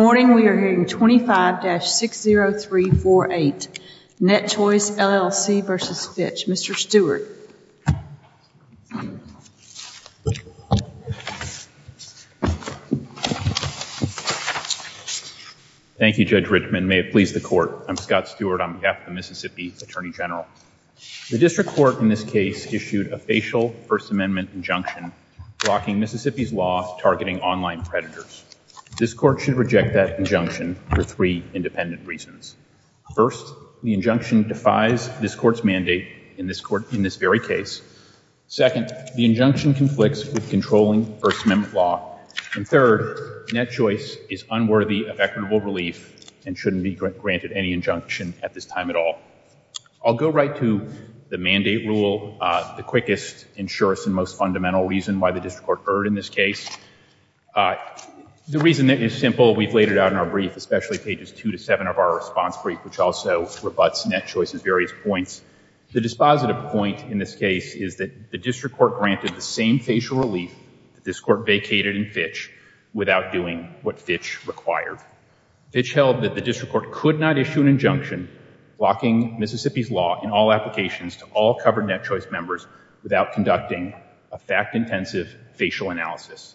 Good morning, we are hearing 25-60348, NetChoice LLC v. Fitch. Mr. Stewart. Thank you Judge Richman, may it please the court. I'm Scott Stewart on behalf of the Mississippi Attorney General. The district court in this case issued a facial First Amendment injunction blocking Mississippi's law targeting online predators. This court should reject that injunction for three independent reasons. First, the injunction defies this court's mandate in this court, in this very case. Second, the injunction conflicts with controlling First Amendment law. And third, NetChoice is unworthy of equitable relief and shouldn't be granted any injunction at this time at all. I'll go right to the mandate rule, the quickest, and surest, and most fundamental reason why the district court erred in this case. The reason is simple, we've laid it out in our brief, especially pages two to seven of our response brief, which also rebutts NetChoice's various points. The dispositive point in this case is that the district court granted the same facial relief that this court vacated in Fitch without doing what Fitch required. Fitch held that the district court could not issue an injunction blocking Mississippi's law in all applications to all covered NetChoice members without conducting a fact-intensive facial analysis.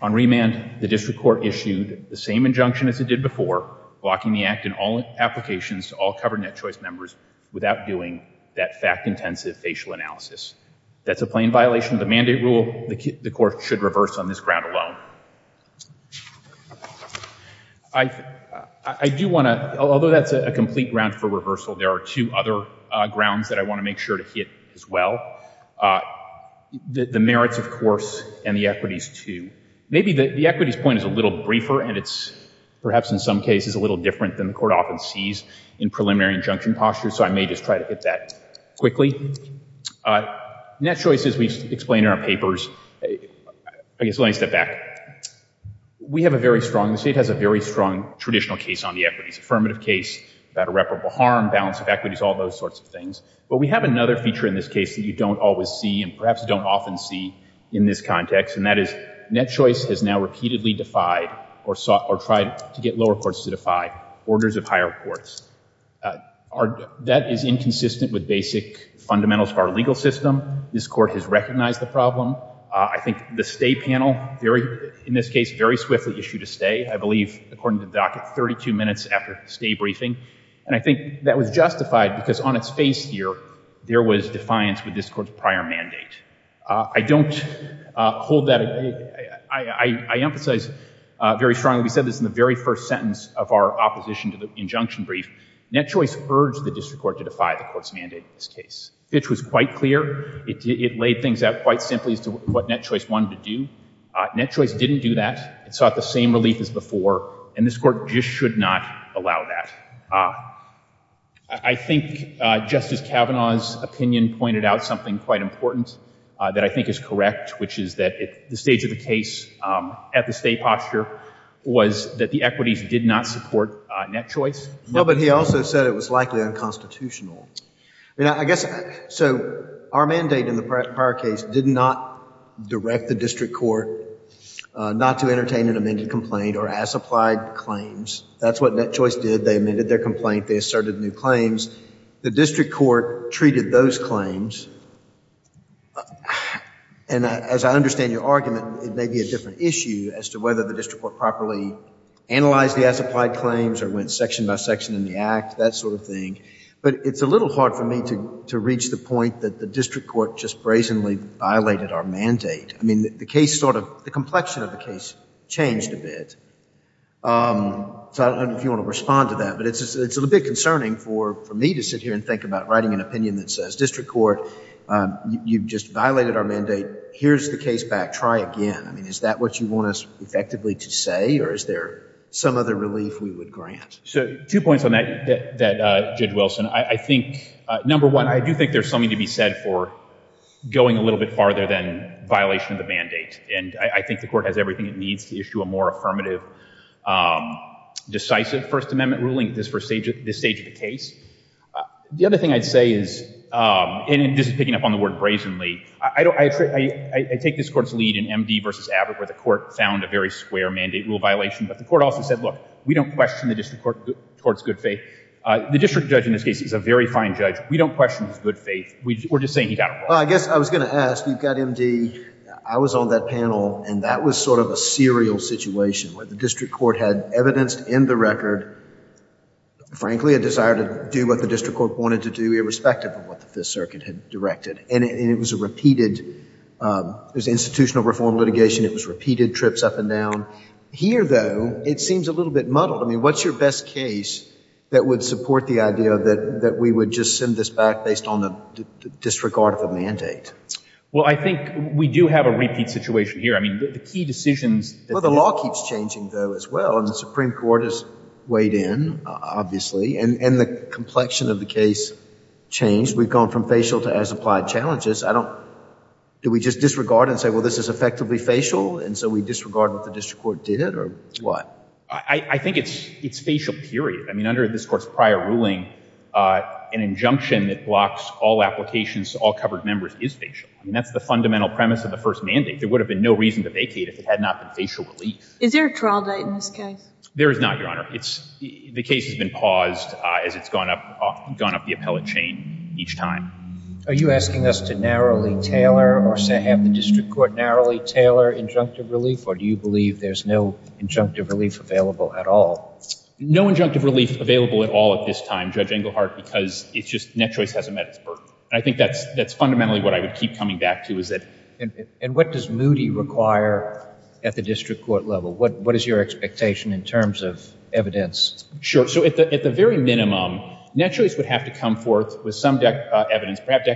On remand, the district court issued the same injunction as it did before, blocking the act in all applications to all covered NetChoice members without doing that fact-intensive facial analysis. That's a plain violation of the mandate rule the court should reverse on this ground alone. I do want to, although that's a complete ground for reversal, there are two other grounds that I want to make sure to hit as well. The merits, of course, and the equities, too. Maybe the equities point is a little briefer, and it's perhaps in some cases a little different than the court often sees in preliminary injunction postures, so I may just try to hit that quickly. NetChoice, as we explain in our papers, I guess let me step back. We have a very strong, the state has a very strong traditional case on the equities, affirmative case about irreparable harm, balance of equities, all those sorts of things. But we have another feature in this case that you don't always see and perhaps don't often see in this context, and that is NetChoice has now repeatedly defied or tried to get lower courts to defy orders of higher courts. That is inconsistent with basic fundamentals of our legal system. This court has recognized the problem. I think the stay panel in this case very swiftly issued a stay, I believe according to the docket, 32 minutes after stay briefing, and I think that was justified because on its face here, there was defiance with this court's prior mandate. I don't hold that, I emphasize very strongly, we said this in the very first sentence of our opposition to the injunction brief, NetChoice urged the district court to defy the court's mandate in this case. Fitch was quite clear. It laid things out quite simply as to what NetChoice wanted to do. NetChoice didn't do that. It sought the same relief as before, and this court just should not allow that. I think Justice Kavanaugh's opinion pointed out something quite important that I think is correct, which is that at the stage of the case, at the stay posture, was that the equities did not support NetChoice. Well, but he also said it was likely unconstitutional. I mean, I guess, so our mandate in the prior case did not direct the district court not to entertain an amended complaint or as-applied claims. That's what NetChoice did. They amended their complaint. They asserted new claims. The district court treated those claims, and as I understand your argument, it may be a different issue as to whether the district court properly analyzed the as-applied claims or went section by section in the act, that sort of thing. But it's a point that the district court just brazenly violated our mandate. I mean, the case sort of, the complexion of the case changed a bit. So I don't know if you want to respond to that, but it's a little bit concerning for me to sit here and think about writing an opinion that says district court, you just violated our mandate. Here's the case back. Try again. I mean, is that what you want us effectively to say, or is there some other relief we would grant? So two points on that, Judge Wilson. I think, number one, I do think there's something to be said for going a little bit farther than violation of the mandate. And I think the court has everything it needs to issue a more affirmative, decisive First Amendment ruling at this first stage of the case. The other thing I'd say is, and this is picking up on the word brazenly, I take this court's lead in MD versus Abbott, where the court found a very square mandate rule violation. But the court also said, look, we don't question the district court towards good faith. The district judge in this case is a very fine judge. We don't question his good faith. We're just saying he got it wrong. I guess I was going to ask, you've got MD. I was on that panel, and that was sort of a serial situation where the district court had evidenced in the record, frankly, a desire to do what the district court wanted to do irrespective of what the Fifth Circuit had directed. And it was a repeated, it was a repeated case. Here, though, it seems a little bit muddled. I mean, what's your best case that would support the idea that we would just send this back based on the disregard of the mandate? Well, I think we do have a repeat situation here. I mean, the key decisions Well, the law keeps changing, though, as well. And the Supreme Court has weighed in, obviously. And the complexion of the case changed. We've gone from facial to as applied challenges. Do we just disregard and say, well, this is effectively facial? And so we disregard what the district court did, or what? I think it's facial, period. I mean, under this Court's prior ruling, an injunction that blocks all applications to all covered members is facial. I mean, that's the fundamental premise of the first mandate. There would have been no reason to vacate if it had not been facial relief. Is there a trial date in this case? There is not, Your Honor. The case has been paused as it's gone up the appellate chain each time. Are you asking us to narrowly tailor or have the district court narrowly tailor injunctive relief? Or do you believe there's no injunctive relief available at all? No injunctive relief available at all at this time, Judge Englehart, because it's just NetChoice hasn't met its burden. And I think that's fundamentally what I would keep coming back to, is that And what does Moody require at the district court level? What is your expectation in terms of evidence? Sure. So at the very minimum, NetChoice would have to come forth with some evidence, perhaps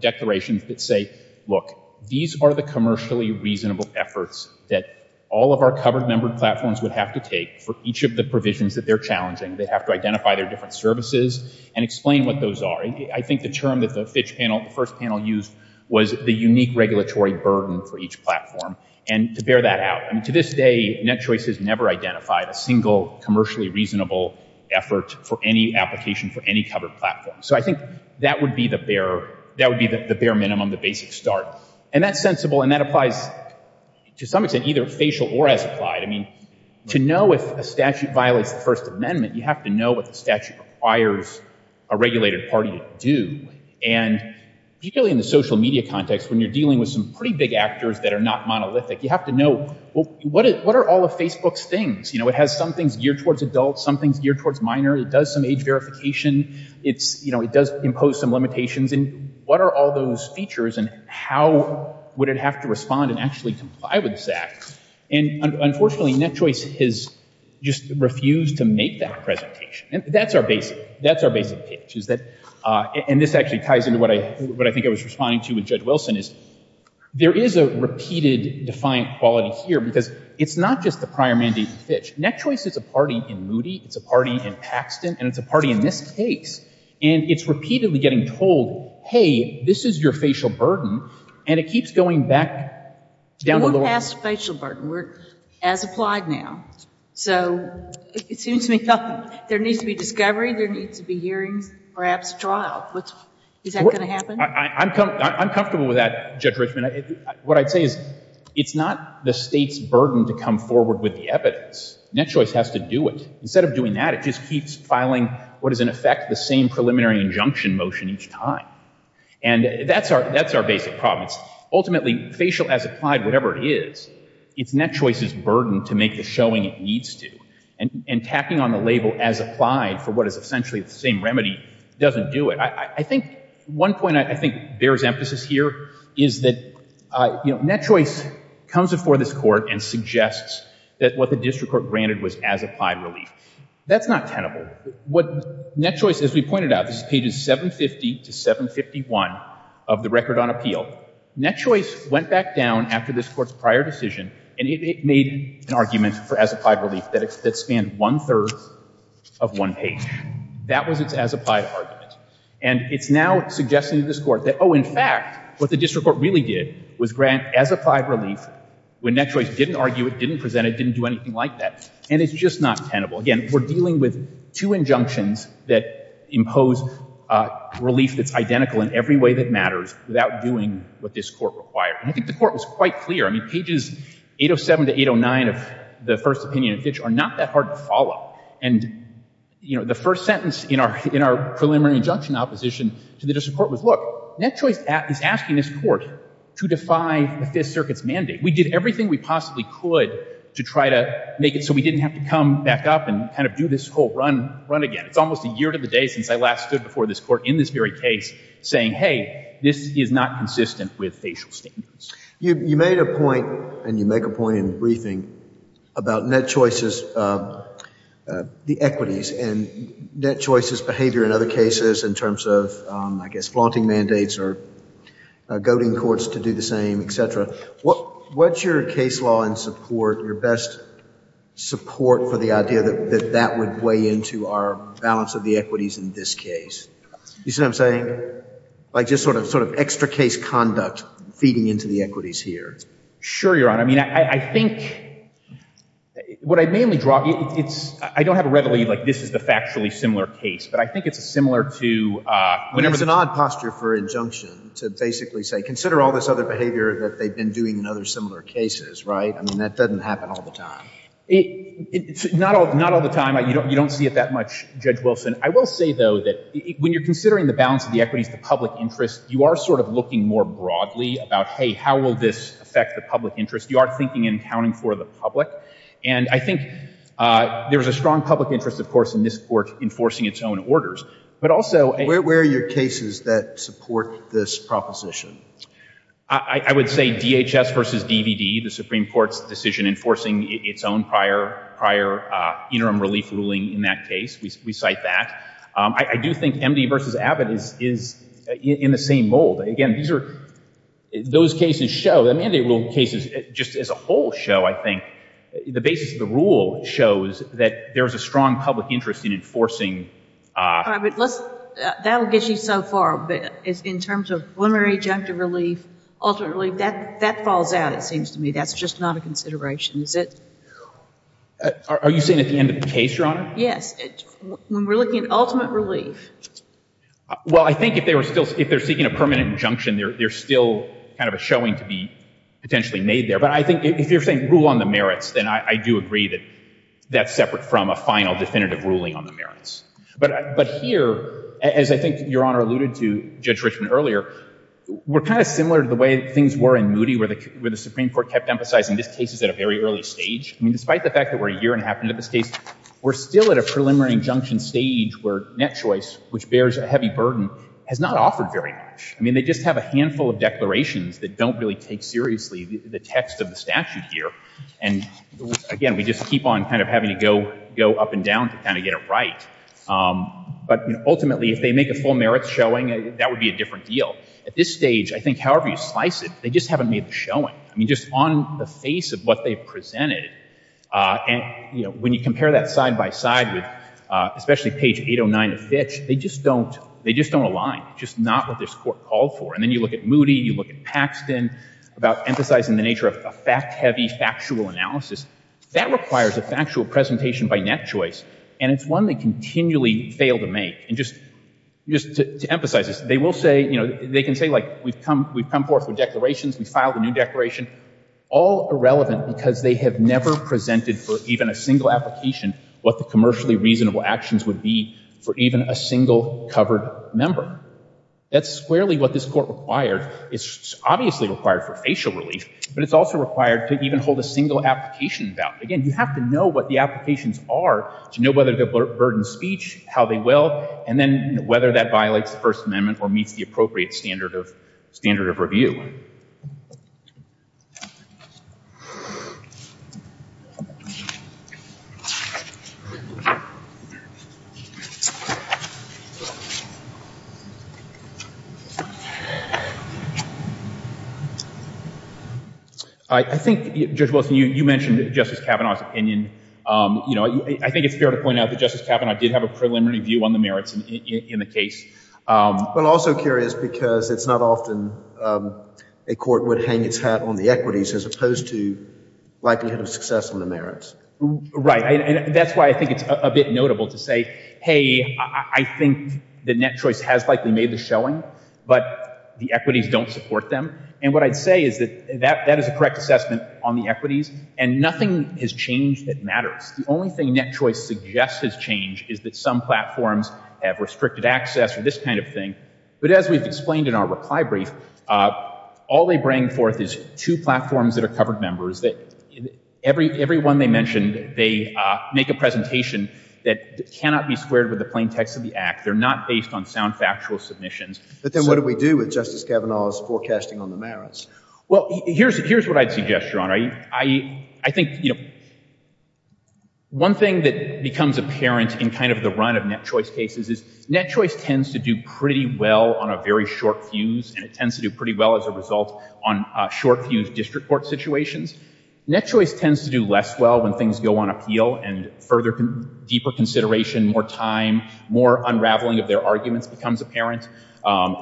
declarations that say, look, these are the commercially reasonable efforts that all of our covered numbered platforms would have to take for each of the provisions that they're challenging. They have to identify their different services and explain what those are. I think the term that the Fitch panel, the first panel used, was the unique regulatory burden for each platform. And to bear that out, I mean, to this day, NetChoice has never identified a single commercially reasonable effort for any application for any covered platform. So I think that would be the bare minimum, the basic start. And that's sensible, and that applies to some extent either facial or as applied. I mean, to know if a statute violates the First Amendment, you have to know what the statute requires a regulated party to do. And particularly in the social media context, when you're dealing with some pretty big actors that are not monolithic, you have to know, well, what are all of Facebook's things? You know, it has some things geared towards adults, some things geared towards minor. It does some age verification. It does impose some limitations. And what are all those features, and how would it have to respond and actually comply with that? And unfortunately, NetChoice has just refused to make that presentation. And that's our basic pitch, is that, and this actually ties into what I think I was responding to with Judge Wilson, is there is a repeated defiant quality here, because it's not just the prior mandate in Fitch. NetChoice is a party in Moody, it's a party in Fitch, and it's repeatedly getting told, hey, this is your facial burden, and it keeps going back down to the law. We're past facial burden. We're as applied now. So it seems to me there needs to be discovery, there needs to be hearings, perhaps trial. Is that going to happen? I'm comfortable with that, Judge Richman. What I'd say is it's not the state's burden to come forward with the evidence. NetChoice has to do it. Instead of doing that, it just keeps filing what is in effect the same preliminary injunction motion each time. And that's our basic problem. Ultimately, facial as applied, whatever it is, it's NetChoice's burden to make the showing it needs to. And tacking on the label as applied for what is essentially the same remedy doesn't do it. I think one point I think bears emphasis here is that NetChoice comes before this Court and suggests that what the district court granted was as applied relief. That's not tenable. What NetChoice, as we pointed out, this is pages 750 to 751 of the record on appeal. NetChoice went back down after this Court's prior decision, and it made an argument for as applied relief that spanned one-third of one page. That was its as applied argument. And it's now suggesting to this Court that, oh, in fact, what the district court really did was grant as applied relief when NetChoice didn't argue it, didn't present it, didn't do anything like that. And it's just not tenable. Again, we're dealing with two injunctions that impose relief that's identical in every way that matters without doing what this Court required. And I think the Court was quite clear. I mean, pages 807 to 809 of the first opinion of Fitch are not that hard to follow. And, you know, the first sentence in our preliminary injunction opposition to the district court was, look, NetChoice is asking this Court to defy the Fifth Circuit's mandate. We did everything we possibly could to try to make it so we didn't have to come back up and kind of do this whole run again. It's almost a year to the day since I last stood before this Court in this very case saying, hey, this is not consistent with facial statements. You made a point, and you make a point in the briefing, about NetChoice's, the equities case, and NetChoice's behavior in other cases in terms of, I guess, flaunting mandates or goading courts to do the same, et cetera. What's your case law and support, your best support for the idea that that would weigh into our balance of the equities in this case? You see what I'm saying? Like just sort of extra case conduct feeding into the equities here. Sure, Your Honor. I mean, I think what I mainly draw, it's, I don't have a readily, like, this is the factually similar case, but I think it's similar to, uh, whenever- It's an odd posture for injunction to basically say, consider all this other behavior that they've been doing in other similar cases, right? I mean, that doesn't happen all the time. It, it's not all, not all the time. You don't, you don't see it that much, Judge Wilson. I will say, though, that when you're considering the balance of the equities to public interest, you are sort of looking more broadly about, hey, how will this affect the public interest? You are thinking and accounting for the public. And I think, uh, there was a strong public interest, of course, in this Court enforcing its own orders, but also- Where, where are your cases that support this proposition? I would say DHS versus DVD, the Supreme Court's decision enforcing its own prior, prior, uh, interim relief ruling in that case. We, we cite that. Um, I, I do think MD versus Abbott is, is in the same mold. Again, these are, those cases show, the mandate rule cases just as a whole show, I think, the basis of the rule shows that there's a strong public interest in enforcing, uh- All right, but let's, uh, that'll get you so far, but in terms of preliminary injunctive relief, ultimate relief, that, that falls out, it seems to me. That's just not a consideration. Is it- Are, are you saying at the end of the case, Your Honor? Yes. When we're looking at ultimate relief- Well, I think if they were still, if they're seeking a permanent injunction, there, there's still kind of a showing to be potentially made there, but I think if you're saying rule on the merits, then I, I do agree that that's separate from a final definitive ruling on the merits. But, but here, as I think Your Honor alluded to Judge Richman earlier, we're kind of similar to the way things were in Moody where the, where the Supreme Court kept emphasizing this case is at a very early stage. I mean, despite the fact that we're a year and a half into this case, we're still at a preliminary injunction stage where net choice which bears a heavy burden has not offered very much. I mean, they just have a handful of declarations that don't really take seriously the text of the statute here. And again, we just keep on kind of having to go, go up and down to kind of get it right. But ultimately, if they make a full merits showing, that would be a different deal. At this stage, I think however you slice it, they just haven't made the showing. I mean, just on the face of what they've presented and, you know, when you compare that side by side with especially page 809 of Fitch, they just don't, they just don't align. Just not what this Court called for. And then you look at Moody, you look at Paxton about emphasizing the nature of a fact-heavy factual analysis. That requires a factual presentation by net choice. And it's one they continually fail to make. And just, just to emphasize this, they will say, you know, they can say like we've come, we've come forth with declarations, we filed a new declaration, all irrelevant because they have never presented for even a single application what the commercially reasonable actions would be for even a single covered member. That's squarely what this Court required. It's obviously required for facial relief, but it's also required to even hold a single application about it. Again, you have to know what the applications are to know whether to burden speech, how they will, and then whether that violates the First Amendment or meets the appropriate standard of, standard of review. I think, Judge Wilson, you mentioned Justice Kavanaugh's opinion. You know, I think it's fair to point out that Justice Kavanaugh did have a preliminary view on the merits in the case. But also curious because it's not often a court would hang its hat on the equities as opposed to likelihood of success on the merits. Right. And that's why I think it's a bit notable to say, hey, I think the net choice has likely made the showing, but the equities don't support them. And what I'd say is that that, that is a correct assessment on the equities and nothing has changed that matters. The only thing net choice suggests has changed is that some platforms have restricted access or this kind of thing. But as we've explained in our reply brief, all they bring forth is two platforms that are covered members that every one they mentioned, they make a presentation that cannot be squared with the plain text of the act. They're not based on sound factual submissions. But then what do we do with Justice Kavanaugh's forecasting on the merits? Well, here's what I'd suggest, Your Honor. I think, you know, one thing that becomes apparent in kind of the run of net choice cases is net choice tends to do pretty well on a very short fuse and it tends to do pretty well as a result on a short fuse district court situations. Net choice tends to do less well when things go on appeal and further, deeper consideration, more time, more unraveling of their arguments becomes apparent.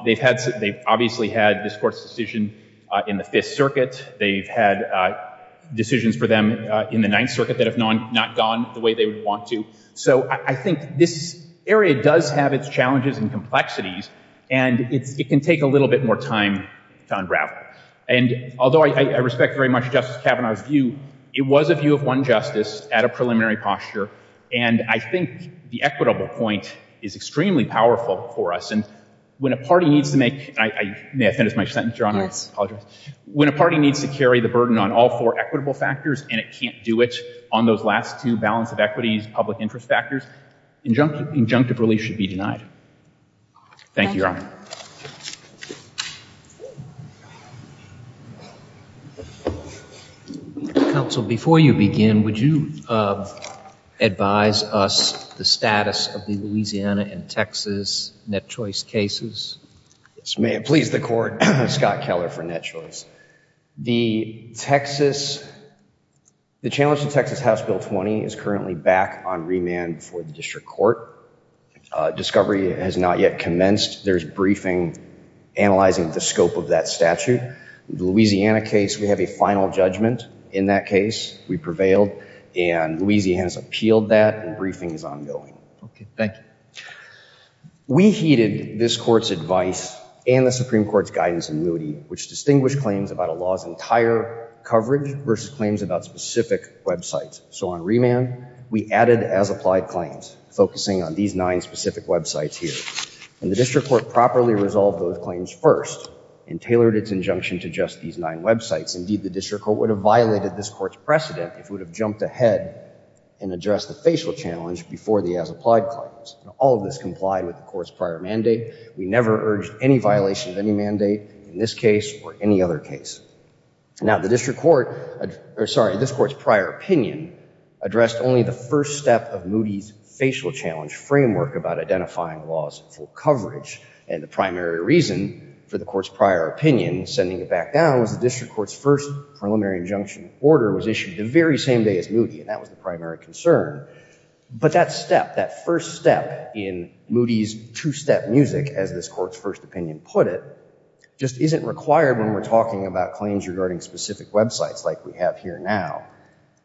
They've had, they've obviously had this court's decision in the Fifth Circuit. They've had decisions for them in the Ninth Circuit that have not gone the way they would want to. So I think this area does have its challenges and complexities and it can take a little bit more time to unravel. And although I respect very much Justice Kavanaugh's view, it was a view of one justice at a preliminary posture. And I think the equitable point is extremely powerful for us. And when a party needs to make, I may have finished my sentence, Your Honor. I apologize. When a party needs to carry the burden on all four equitable factors and it can't do it on those last two balance of equities, public interest factors, injunctive release should be denied. Thank you, Your Honor. Counsel, before you begin, would you advise us the status of the Louisiana and Texas net choice cases? Yes, may it please the court. Scott Keller for net choice. The Texas, the challenge to Texas House Bill 20 is currently back on remand for the district court. Discovery has not yet commenced. There's briefing analyzing the scope of that statute. The Louisiana case, we have a final judgment in that case. We prevailed and Louisiana has appealed that and briefing is ongoing. Okay, thank you. We heeded this court's advice and the Supreme Court's guidance in moody, which claims about a law's entire coverage versus claims about specific websites. So on remand, we added as applied claims, focusing on these nine specific websites here. And the district court properly resolved those claims first and tailored its injunction to just these nine websites. Indeed, the district court would have violated this court's precedent if it would have jumped ahead and address the facial challenge before the as applied claims. All of this complied with the court's prior mandate. We never urged any violation of any mandate in this case or any other case. Now the district court, sorry, this court's prior opinion addressed only the first step of moody's facial challenge framework about identifying laws for coverage. And the primary reason for the court's prior opinion sending it back down was the district court's first preliminary injunction order was issued the very same day as moody and that was the primary concern. But that step, that first step in moody's two-step music as this court's first opinion put it, just isn't required when we're talking about claims regarding specific websites like we have here now.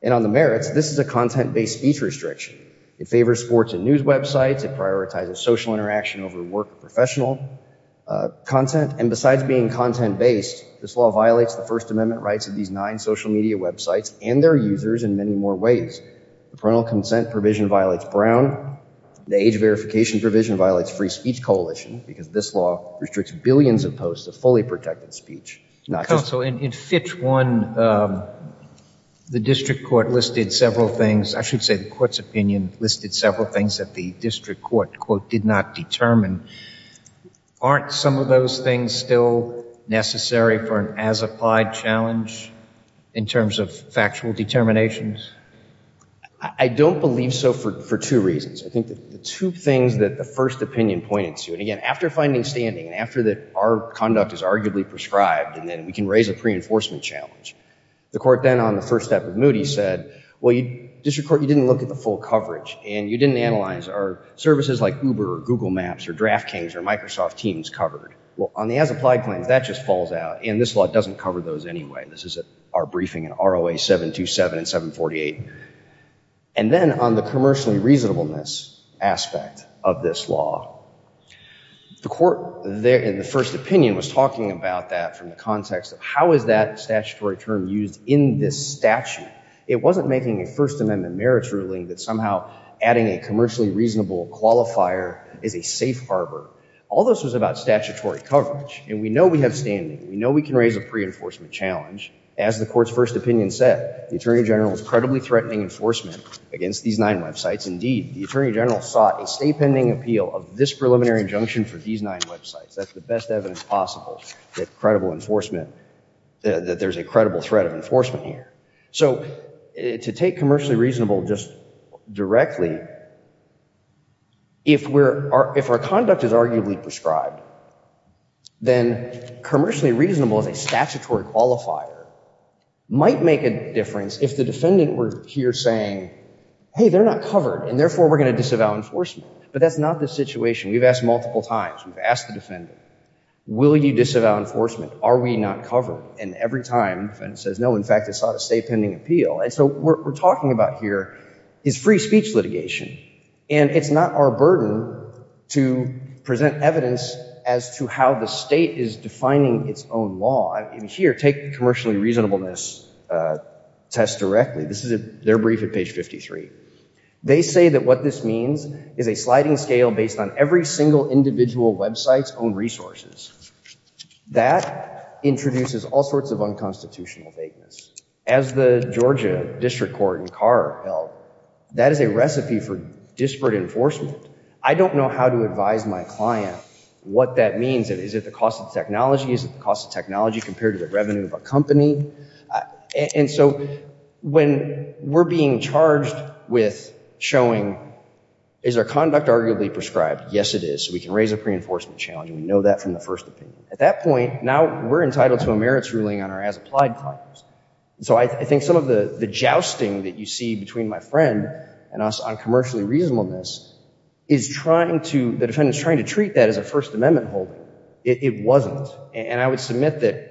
And on the merits, this is a content-based speech restriction. It favors sports and news websites. It prioritizes social interaction over work or professional content. And besides being content-based, this law violates the First Amendment rights of these nine social media websites and their users in many more ways. The parental consent provision violates Brown. The age of the law violates the parental consent provision. It violates the rights of the parents and the guardians of posts of fully protected speech. So in Fitch 1, the district court listed several things, I should say the court's opinion listed several things that the district court, quote, did not determine. Aren't some of those things still necessary for an as-applied challenge in terms of factual determinations? I don't believe so for two reasons. I think the two things that the first opinion pointed to, and again, after finding standing and after our conduct is arguably prescribed and then we can raise a pre-enforcement challenge, the court then on the first step of moody's said, well, district court, you didn't look at the full coverage and you didn't analyze are services like Uber or Google Maps or Draft Kings or Microsoft Teams covered? Well, on the as-applied claims, that just falls out and this law doesn't cover those anyway. This is our briefing in ROA 727 and 748. And then on the commercially reasonableness aspect of this law, the court in the first opinion was talking about that from the context of how is that statutory term used in this statute? It wasn't making a first amendment merits ruling that somehow adding a commercially reasonable qualifier is a safe harbor. All this was about statutory coverage and we know we have standing. We know we can raise a pre-enforcement challenge. As the court's first opinion said, the attorney general is credibly threatening enforcement against these nine websites. Indeed, the attorney general sought a state pending appeal of this preliminary injunction for these nine websites. That's the best evidence possible that credible enforcement, that there's a credible threat of enforcement here. So to take commercially reasonable just directly, if we're, if our conduct is arguably prescribed, then commercially reasonable as a statutory qualifier might make a difference if the defendant were here saying, hey, they're not covered and therefore we're going to disavow enforcement. But that's not the situation. We've asked multiple times. We've asked the defendant, will you disavow enforcement? Are we not covered? And every time the defendant says no, in fact, it sought a state pending appeal. And so what we're talking about here is free speech litigation. And it's not our burden to present evidence as to how the state is defining its own law. Here, take the commercially reasonableness test directly. This is their brief at page 53. They say that what this means is a sliding scale based on every single individual website's own resources. That introduces all sorts of unconstitutional vagueness. As the Georgia District Court in Carr held, that is a recipe for disparate enforcement. I don't know how to advise my client what that means. Is it the cost of technology compared to the revenue of a company? And so when we're being charged with showing, is our conduct arguably prescribed? Yes, it is. We can raise a pre-enforcement challenge. We know that from the first opinion. At that point, now we're entitled to a merits ruling on our as-applied claims. So I think some of the jousting that you see between my friend and us on commercially reasonableness is the defendant is trying to treat that as a First Amendment holding. It wasn't. I would submit that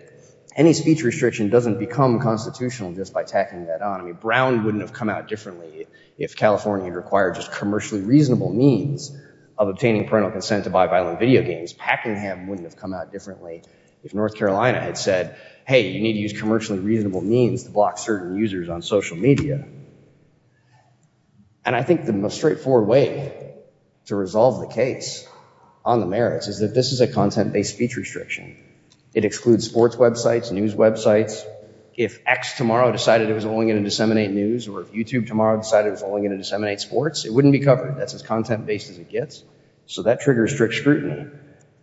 any speech restriction doesn't become constitutional just by tacking that on. Brown wouldn't have come out differently if California required just commercially reasonable means of obtaining parental consent to buy violent video games. Packingham wouldn't have come out differently if North Carolina had said, hey, you need to use commercially reasonable means to block certain users on social media. And I think the most straightforward way to resolve the case on the merits is that this is a content-based speech restriction. It excludes sports websites, news websites. If X tomorrow decided it was only going to disseminate news or if YouTube tomorrow decided it was only going to disseminate sports, it wouldn't be covered. That's as content-based as it gets. So that triggers strict scrutiny.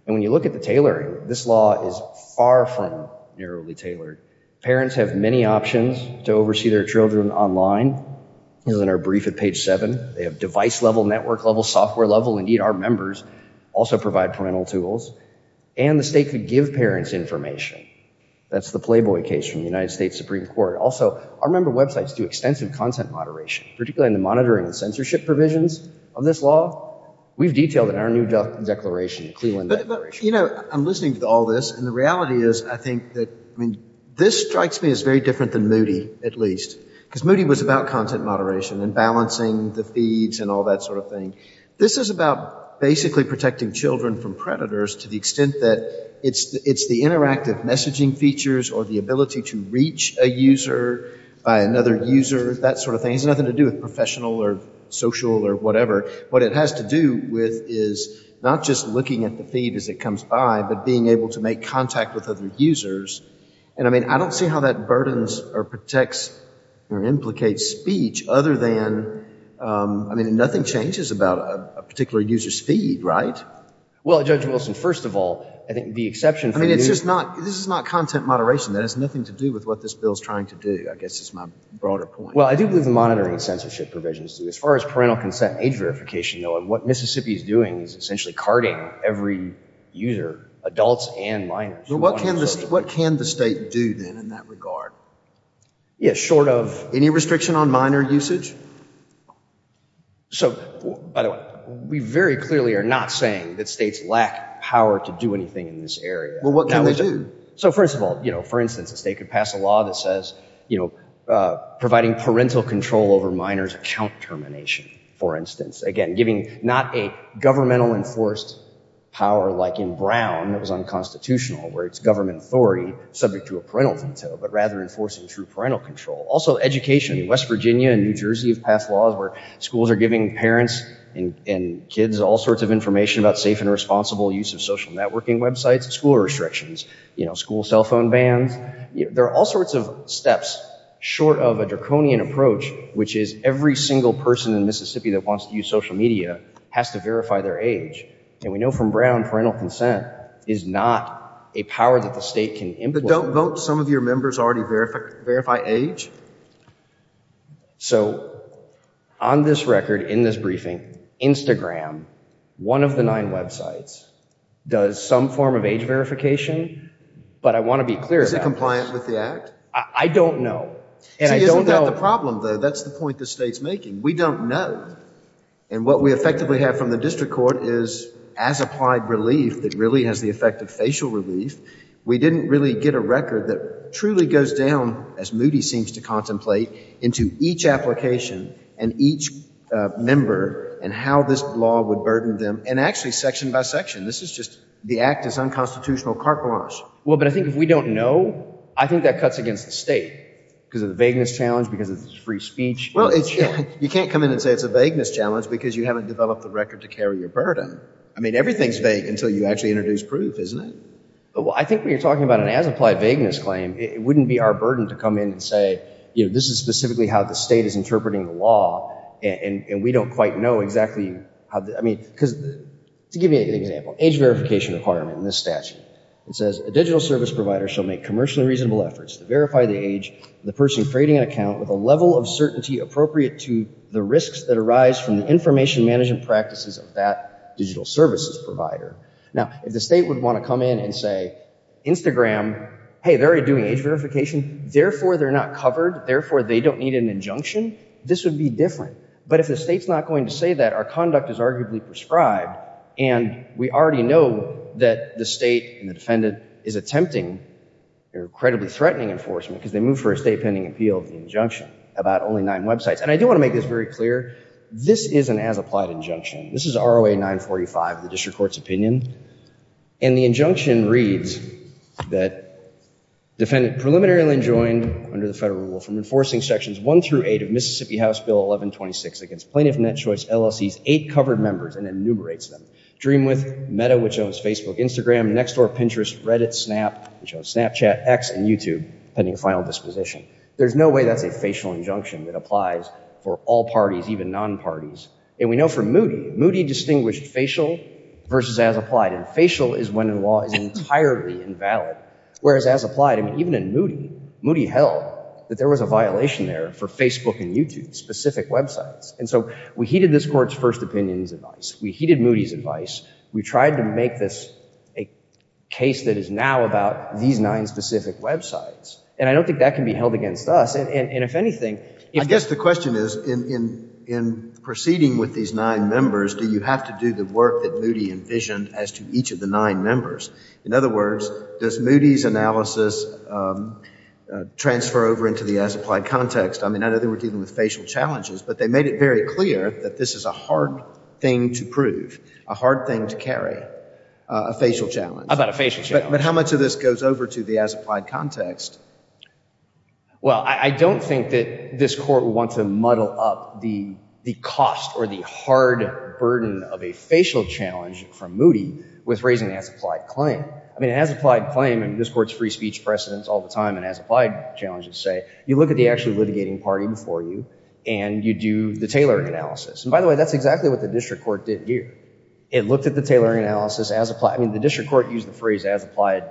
And when you look at the tailoring, this law is far from narrowly tailored. Parents have many options to oversee their children online. This is in our brief at page 7. They have device level, network level, software level. Indeed, our members also provide parental tools. And the state could give parents information. That's the Playboy case from the United States Supreme Court. Also, our member websites do extensive content moderation, particularly in the monitoring and censorship provisions of this law. We've detailed it in our new declaration, the Cleveland Declaration. You know, I'm listening to all this, and the reality is I think that, I mean, this strikes me as very different than Moody, at least, because Moody was about content moderation and balancing the feeds and all that sort of thing. This is about basically protecting children from predators to the extent that it's the interactive messaging features or the ability to reach a user by another user, that sort of thing. It has nothing to do with professional or social or whatever. What it has to do with is not just looking at the feed as it comes by, but being able to make contact with other users. And, I mean, I don't see how that burdens or protects or implicates speech other than, I mean, nothing changes about a particular user's feed, right? Well, Judge Wilson, first of all, I think the exception for Moody... I mean, it's just not, this is not content moderation. That has nothing to do with what this bill is trying to do, I guess is my broader point. Well, I do believe the monitoring and censorship provisions do. As far as parental consent age verification, what Mississippi is doing is essentially carding every user, adults and minors. But what can the state do then in that regard? Yeah, short of... Any restriction on minor usage? So, by the way, we very clearly are not saying that states lack power to do anything in this area. Well, what can they do? So, first of all, for instance, a state could pass a law that says providing parental control over minors' account termination, for instance. Again, giving not a governmental enforced power like in Brown that was unconstitutional, where it's government authority subject to a parental veto, but rather enforcing through parental control. Also, education. West Virginia and New Jersey have passed laws where schools are giving parents and kids all sorts of information about safe and responsible use of social networking websites, school restrictions, you know, school cell phone bans. There are all sorts of steps short of a draconian approach, which is every single person in Mississippi that wants to use social media has to verify their age. And we know from Brown, parental consent is not a power that the state can implement. But don't some of your members already verify age? So, on this record, in this briefing, Instagram, one of the nine websites, does some form of age verification. But I want to be clear. Is it compliant with the act? I don't know. See, isn't that the problem, though? That's the point the state's making. We don't know. And what we effectively have from the district court is as applied relief that really has the effect of facial relief. We didn't really get a record that truly goes down, as Moody seems to contemplate, into each application and each member and how this law would burden them. And actually, section by section. The act is unconstitutional carte blanche. Well, but I think if we don't know, I think that cuts against the state because of the vagueness challenge, because it's free speech. Well, you can't come in and say it's a vagueness challenge because you haven't developed the record to carry your burden. I mean, everything's vague until you actually introduce proof, isn't it? I think when you're talking about an as-applied vagueness claim, it wouldn't be our burden to come in and say, you know, this is specifically how the state is interpreting the law, and we don't quite know exactly how. Because, to give you an example, age verification requirement in this statute. It says, a digital service provider shall make commercially reasonable efforts to verify the age of the person creating an account with a level of certainty appropriate to the risks that arise from the information management practices of that digital services provider. Now, if the state would want to come in and say, Instagram, hey, they're already doing age verification. Therefore, they're not covered. Therefore, they don't need an injunction. This would be different. But if the state's not going to say that, our conduct is arguably prescribed, and we already know that the state and the defendant is attempting or credibly threatening enforcement because they move for a state-pending appeal of the injunction about only nine websites. And I do want to make this very clear. This is an as-applied injunction. This is ROA 945 of the district court's opinion. And the injunction reads that defendant preliminarily enjoined under the federal rule from enforcing sections one through eight of Mississippi House Bill 1126 against plaintiff net choice LLC's eight covered members and enumerates them. Dreamwith, Metta, which owns Facebook, Instagram, Nextdoor, Pinterest, Reddit, Snap, which owns Snapchat, X, and YouTube, pending final disposition. There's no way that's a facial injunction that applies for all parties, even non-parties. And we know from Moody, Moody distinguished facial versus as-applied. And facial is when a law is entirely invalid, whereas as-applied, even in Moody, Moody held that there was a violation there for Facebook and YouTube, specific websites. And so we heeded this court's first opinion's advice. We heeded Moody's advice. We tried to make this a case that is now about these nine specific websites. And I don't think that can be held against us. And if anything, if— I guess the question is, in proceeding with these nine members, do you have to do the work that Moody envisioned as to each of the nine members? In other words, does Moody's analysis transfer over into the as-applied context? I mean, I know they were dealing with facial challenges, but they made it very clear that this is a hard thing to prove, a hard thing to carry, a facial challenge. How about a facial challenge? But how much of this goes over to the as-applied context? Well, I don't think that this court would want to muddle up the cost or the hard burden of a facial challenge from Moody with raising an as-applied claim. I mean, an as-applied claim, and this court's free speech precedents all the time, and as-applied challenges say, you look at the actually litigating party before you, and you do the tailoring analysis. And by the way, that's exactly what the district court did here. It looked at the tailoring analysis as— I mean, the district court used the phrase as-applied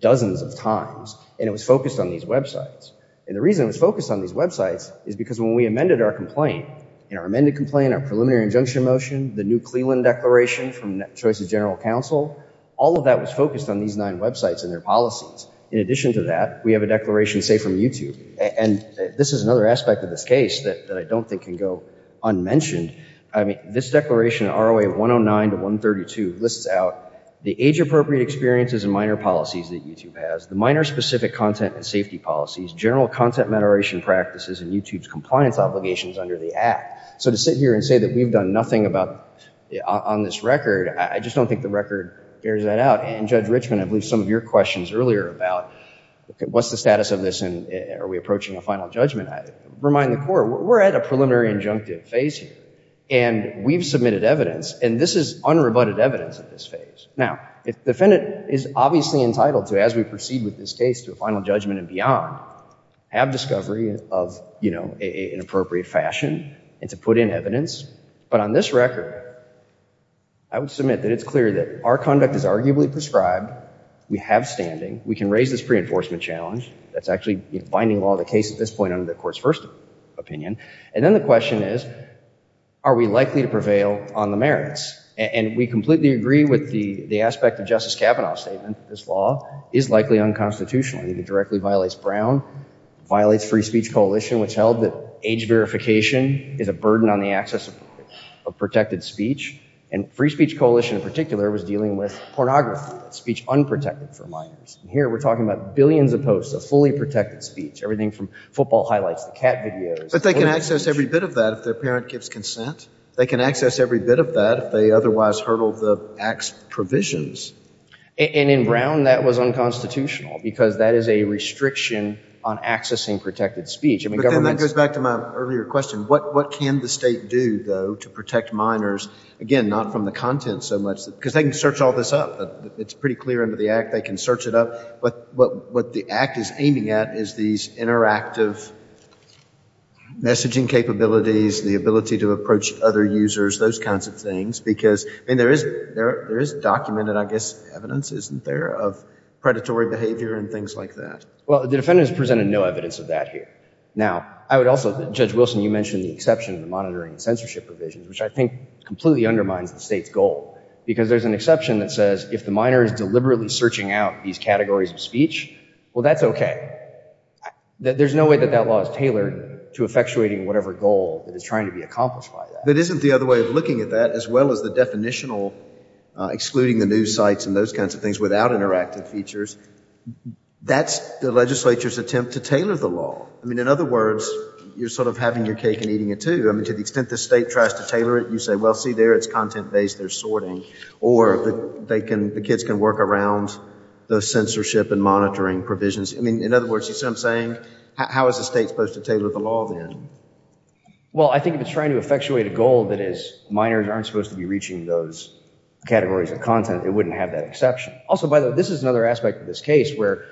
dozens of times, and it was focused on these websites. And the reason it was focused on these websites is because when we amended our complaint, in our amended complaint, our preliminary injunction motion, the new Cleland Declaration from Choices General Counsel, all of that was focused on these nine websites and their policies. In addition to that, we have a declaration, say, from YouTube. And this is another aspect of this case that I don't think can go unmentioned. I mean, this declaration, ROA 109 to 132, lists out the age-appropriate experiences and minor policies that YouTube has, the minor specific content and safety policies, general content moderation practices, and YouTube's compliance obligations under the Act. So to sit here and say that we've done nothing about— on this record, I just don't think the record bears that out. And Judge Richman, I believe some of your questions earlier about what's the status of this, and are we approaching a final judgment? Remind the court, we're at a preliminary injunctive phase here. And we've submitted evidence, and this is unrebutted evidence at this phase. Now, the defendant is obviously entitled to, as we proceed with this case, to a final judgment and beyond. Have discovery of, you know, an appropriate fashion and to put in evidence. But on this record, I would submit that it's clear that our conduct is arguably prescribed. We have standing. We can raise this pre-enforcement challenge. That's actually the binding law of the case at this point under the Court's first opinion. And then the question is, are we likely to prevail on the merits? And we completely agree with the aspect of Justice Kavanaugh's statement that this law is likely unconstitutional. It directly violates Brown, violates Free Speech Coalition, which held that age verification is a burden on the access of protected speech. And Free Speech Coalition, in particular, was dealing with pornography, speech unprotected for minors. And here we're talking about billions of posts of fully protected speech, everything from football highlights to cat videos. But they can access every bit of that if their parent gives consent. They can access every bit of that if they otherwise hurdle the Act's provisions. And in Brown, that was unconstitutional, because that is a restriction on accessing protected speech. But then that goes back to my earlier question. What can the state do, though, to protect minors? Again, not from the content so much. Because they can search all this up. It's pretty clear under the Act. They can search it up. But what the Act is aiming at is these interactive messaging capabilities, the ability to approach other users, those kinds of things. I mean, there is documented, I guess, evidence, isn't there, of predatory behavior and things like that? Well, the defendants presented no evidence of that here. Now, I would also, Judge Wilson, you mentioned the exception in the monitoring and censorship provisions, which I think completely undermines the state's goal. Because there's an exception that says if the minor is deliberately searching out these categories of speech, well, that's OK. There's no way that that law is tailored to effectuating whatever goal that is trying to be accomplished by that. But isn't the other way of looking at that, as well as the definitional excluding the news sites and those kinds of things without interactive features, that's the legislature's attempt to tailor the law. I mean, in other words, you're sort of having your cake and eating it too. I mean, to the extent the state tries to tailor it, you say, well, see there, it's content-based. They're sorting. Or the kids can work around the censorship and monitoring provisions. I mean, in other words, you see what I'm saying? How is the state supposed to tailor the law then? Well, I think if it's trying to effectuate a goal that is minors aren't supposed to be reaching those categories of content, it wouldn't have that exception. Also, by the way, this is another aspect of this case where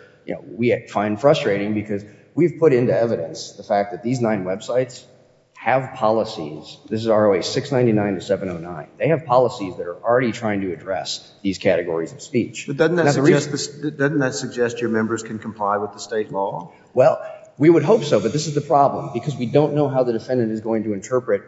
we find frustrating because we've put into evidence the fact that these nine websites have policies. This is ROA 699 to 709. They have policies that are already trying to address these categories of speech. But doesn't that suggest your members can comply with the state law? Well, we would hope so. But this is the problem because we don't know how the defendant is going to interpret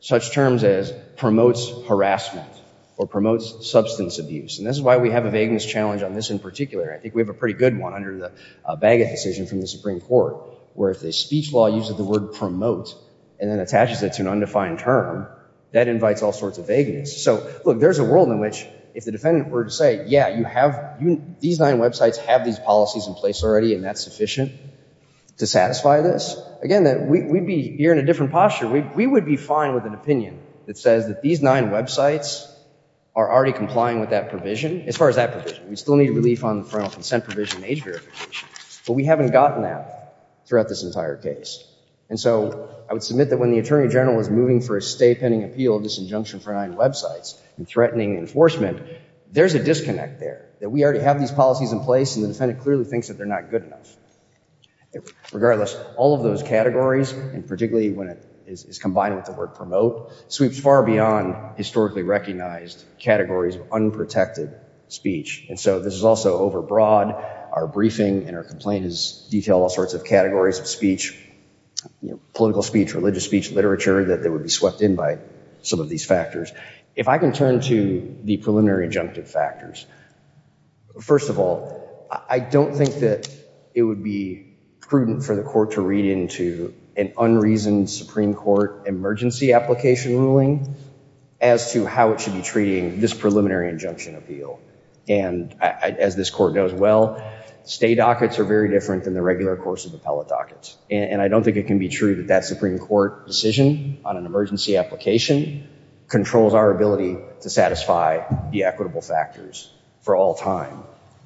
such terms as promotes harassment or promotes substance abuse. And this is why we have a vagueness challenge on this in particular. I think we have a pretty good one under the Bagot decision from the Supreme Court where if the speech law uses the word promote and then attaches it to an undefined term, that invites all sorts of vagueness. So look, there's a world in which if the defendant were to say, yeah, you have these nine websites have these policies in place already and that's sufficient to satisfy this. Again, we'd be here in a different posture. We would be fine with an opinion that says that these nine websites are already complying with that provision. As far as that provision, we still need relief on the parental consent provision and age verification. But we haven't gotten that throughout this entire case. And so I would submit that when the Attorney General was moving for a state pending appeal of this injunction for nine websites and threatening enforcement, there's a disconnect there. That we already have these policies in place and the defendant clearly thinks that they're not good enough. Regardless, all of those categories, and particularly when it is combined with the word promote, sweeps far beyond historically recognized categories of unprotected speech. And so this is also overbroad. Our briefing and our complaint is detailed all sorts of categories of speech, political speech, religious speech, literature that they would be swept in by some of these factors. If I can turn to the preliminary injunctive factors. First of all, I don't think that it would be prudent for the court to read into an unreasoned Supreme Court emergency application ruling as to how it should be treating this preliminary injunction appeal. And as this court knows well, stay dockets are very different than the regular course of appellate dockets. And I don't think it can be true that that Supreme Court decision on an emergency application controls our ability to satisfy the equitable factors. For all time.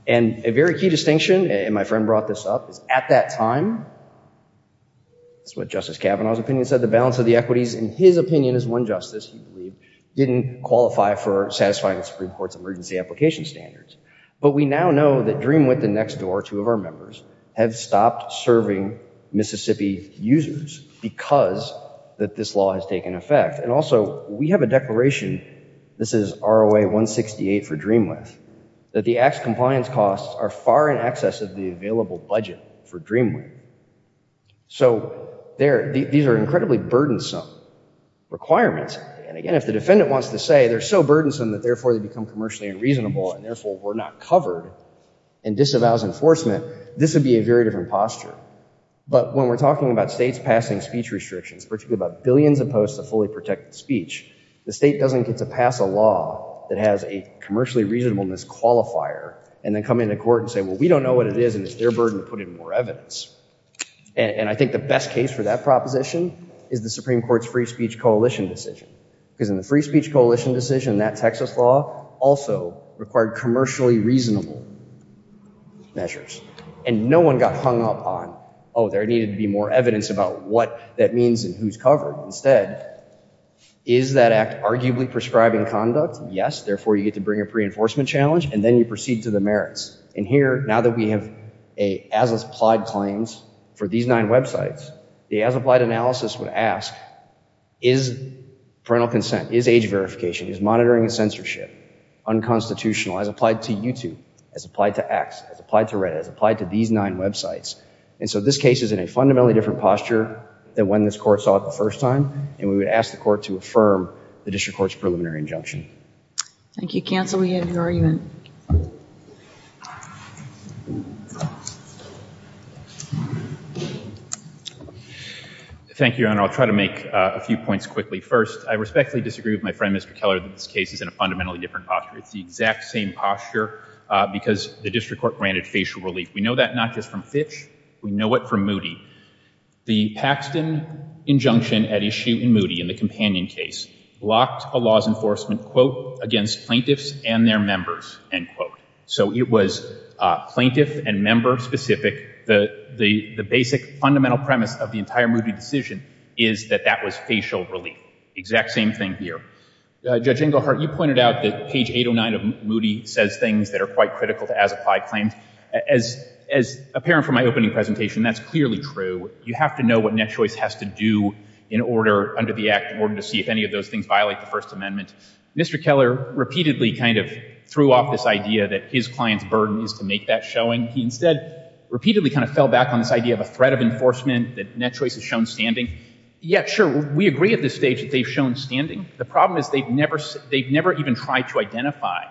And a very key distinction, and my friend brought this up, is at that time, it's what Justice Kavanaugh's opinion said, the balance of the equities, in his opinion as one justice, he believed, didn't qualify for satisfying the Supreme Court's emergency application standards. But we now know that Dreamwith and Nextdoor, two of our members, have stopped serving Mississippi users because that this law has taken effect. And also we have a declaration, this is ROA-168 for Dreamwith, that the acts compliance costs are far in excess of the available budget for Dreamwith. So these are incredibly burdensome requirements. And again, if the defendant wants to say they're so burdensome that therefore they become commercially unreasonable and therefore we're not covered and disavows enforcement, this would be a very different posture. But when we're talking about states passing speech restrictions, particularly about billions of posts of fully protected speech, the state doesn't get to pass a law that has a commercially reasonableness qualifier and then come into court and say, well, we don't know what it is and it's their burden to put in more evidence. And I think the best case for that proposition is the Supreme Court's Free Speech Coalition decision. Because in the Free Speech Coalition decision, that Texas law also required commercially reasonable measures. And no one got hung up on, oh, there needed to be more evidence about what that means and who's covered. Instead, is that act arguably prescribing conduct? Yes, therefore you get to bring a pre-enforcement challenge and then you proceed to the merits. And here, now that we have as-applied claims for these nine websites, the as-applied analysis would ask, is parental consent, is age verification, is monitoring and censorship unconstitutional as applied to YouTube, as applied to X, as applied to Reddit, as applied to these nine websites? And so this case is in a fundamentally different posture than when this court saw it the first time. And we would ask the court to affirm the district court's preliminary injunction. Thank you, counsel. We have your argument. Thank you, Your Honor. I'll try to make a few points quickly. First, I respectfully disagree with my friend, Mr. Keller, that this case is in a fundamentally different posture. It's the exact same posture because the district court granted facial relief. We know that not just from Fitch, we know it from Moody. The Paxton injunction at issue in Moody, in the companion case, blocked a laws enforcement, quote, against plaintiffs and their members, end quote. So it was plaintiff and member specific. The basic fundamental premise of the entire Moody decision is that that was facial relief. Exact same thing here. Judge Ingleheart, you pointed out that page 809 of Moody says things that are quite critical to as-applied claims. As apparent from my opening presentation, that's clearly true. You have to know what NetChoice has to do in order, under the Act, in order to see if any of those things violate the First Amendment. Mr. Keller repeatedly kind of threw off this idea that his client's burden is to make that showing. He instead repeatedly kind of fell back on this idea of a threat of enforcement that NetChoice has shown standing. Yet, sure, we agree at this stage that they've shown standing. The problem is they've never even tried to identify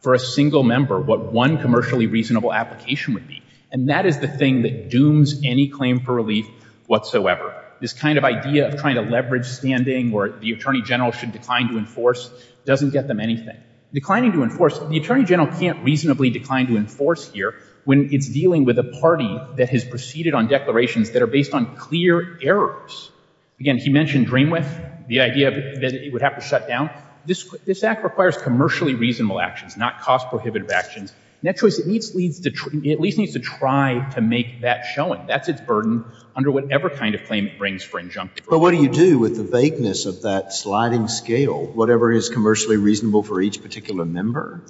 for a single member what one commercially reasonable application would be. And that is the thing that dooms any claim for relief whatsoever. This kind of idea of trying to leverage standing where the attorney general should decline to enforce doesn't get them anything. Declining to enforce, the attorney general can't reasonably decline to enforce here when it's dealing with a party that has proceeded on declarations that are based on clear errors. Again, he mentioned DreamWith, the idea that it would have to shut down. This Act requires commercially reasonable actions, not cost-prohibitive actions. NetChoice at least needs to try to make that showing. That's its burden under whatever kind of claim it brings for injunction. But what do you do with the vagueness of that sliding scale, whatever is commercially reasonable for each particular member?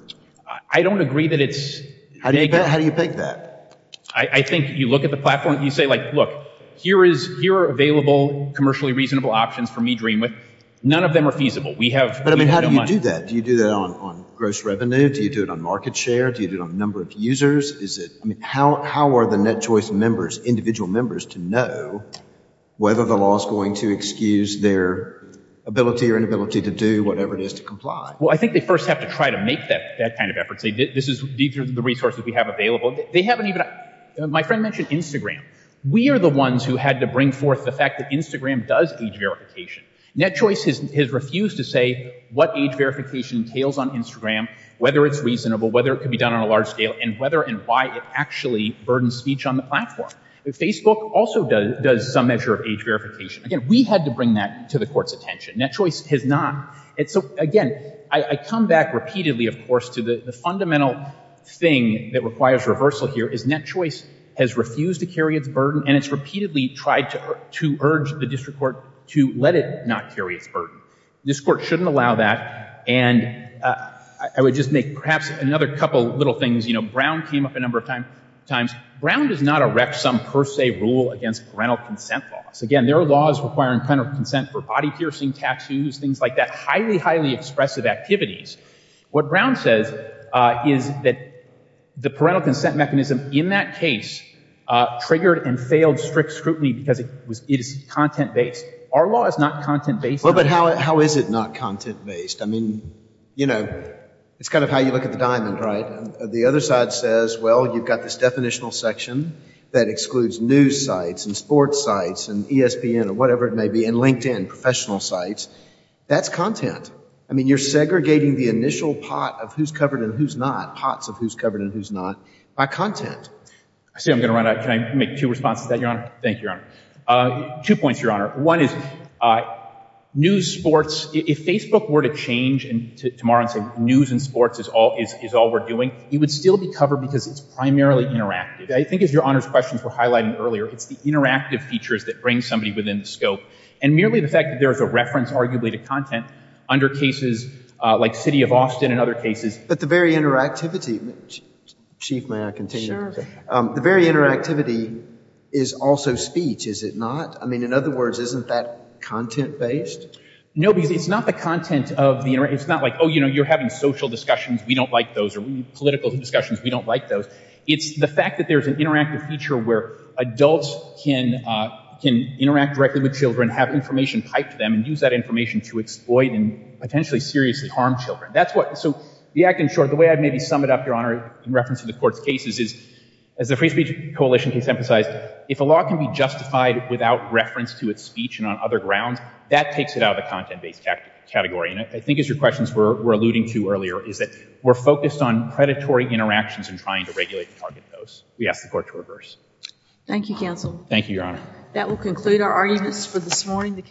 I don't agree that it's vague. How do you pick that? I think you look at the platform and you say, look, here are available commercially reasonable options for me, DreamWith. None of them are feasible. But I mean, how do you do that? Do you do that on gross revenue? Do you do it on market share? Do you do it on number of users? Is it, I mean, how are the NetChoice members, individual members to know whether the law is going to excuse their ability or inability to do whatever it is to comply? Well, I think they first have to try to make that kind of effort. Say, these are the resources we have available. They haven't even, my friend mentioned Instagram. We are the ones who had to bring forth the fact that Instagram does age verification. NetChoice has refused to say what age verification entails on Instagram, whether it's reasonable, whether it can be done on a large scale, and whether and why it actually burdens speech on the platform. Facebook also does some measure of age verification. Again, we had to bring that to the court's attention. NetChoice has not. And so, again, I come back repeatedly, of course, to the fundamental thing that requires reversal here is NetChoice has refused to carry its burden and it's repeatedly tried to urge the district court to let it not carry its burden. This court shouldn't allow that. And I would just make perhaps another couple little things. You know, Brown came up a number of times. Brown does not erect some per se rule against parental consent laws. Again, there are laws requiring parental consent for body piercing, tattoos, things like that, highly, highly expressive activities. What Brown says is that the parental consent mechanism in that case triggered and failed strict scrutiny because it is content-based. Our law is not content-based. Well, but how is it not content-based? You know, it's kind of how you look at the diamond, right? The other side says, well, you've got this definitional section that excludes news sites and sports sites and ESPN or whatever it may be and LinkedIn, professional sites. That's content. I mean, you're segregating the initial pot of who's covered and who's not, pots of who's covered and who's not, by content. I see I'm going to run out of time. Can I make two responses to that, Your Honor? Thank you, Your Honor. Two points, Your Honor. One is news, sports, if Facebook were to change tomorrow and say news and sports is all we're doing, it would still be covered because it's primarily interactive. I think, as Your Honor's questions were highlighting earlier, it's the interactive features that bring somebody within the scope. And merely the fact that there is a reference, arguably, to content under cases like City of Austin and other cases. But the very interactivity, Chief, may I continue? Sure. The very interactivity is also speech, is it not? I mean, in other words, isn't that content-based? No, because it's not the content of the interaction. It's not like, oh, you're having social discussions, we don't like those, or political discussions, we don't like those. It's the fact that there's an interactive feature where adults can interact directly with children, have information piped to them, and use that information to exploit and potentially seriously harm children. That's what, so the act in short, the way I'd maybe sum it up, Your Honor, in reference to the court's cases is, as the Free Speech Coalition case emphasized, if a law can be justified without reference to its speech and on other grounds, that takes it out of the content-based category. And I think it's your questions we're alluding to earlier, is that we're focused on predatory interactions and trying to regulate and target those. We ask the Court to reverse. Thank you, counsel. Thank you, Your Honor. That will conclude our arguments for this morning.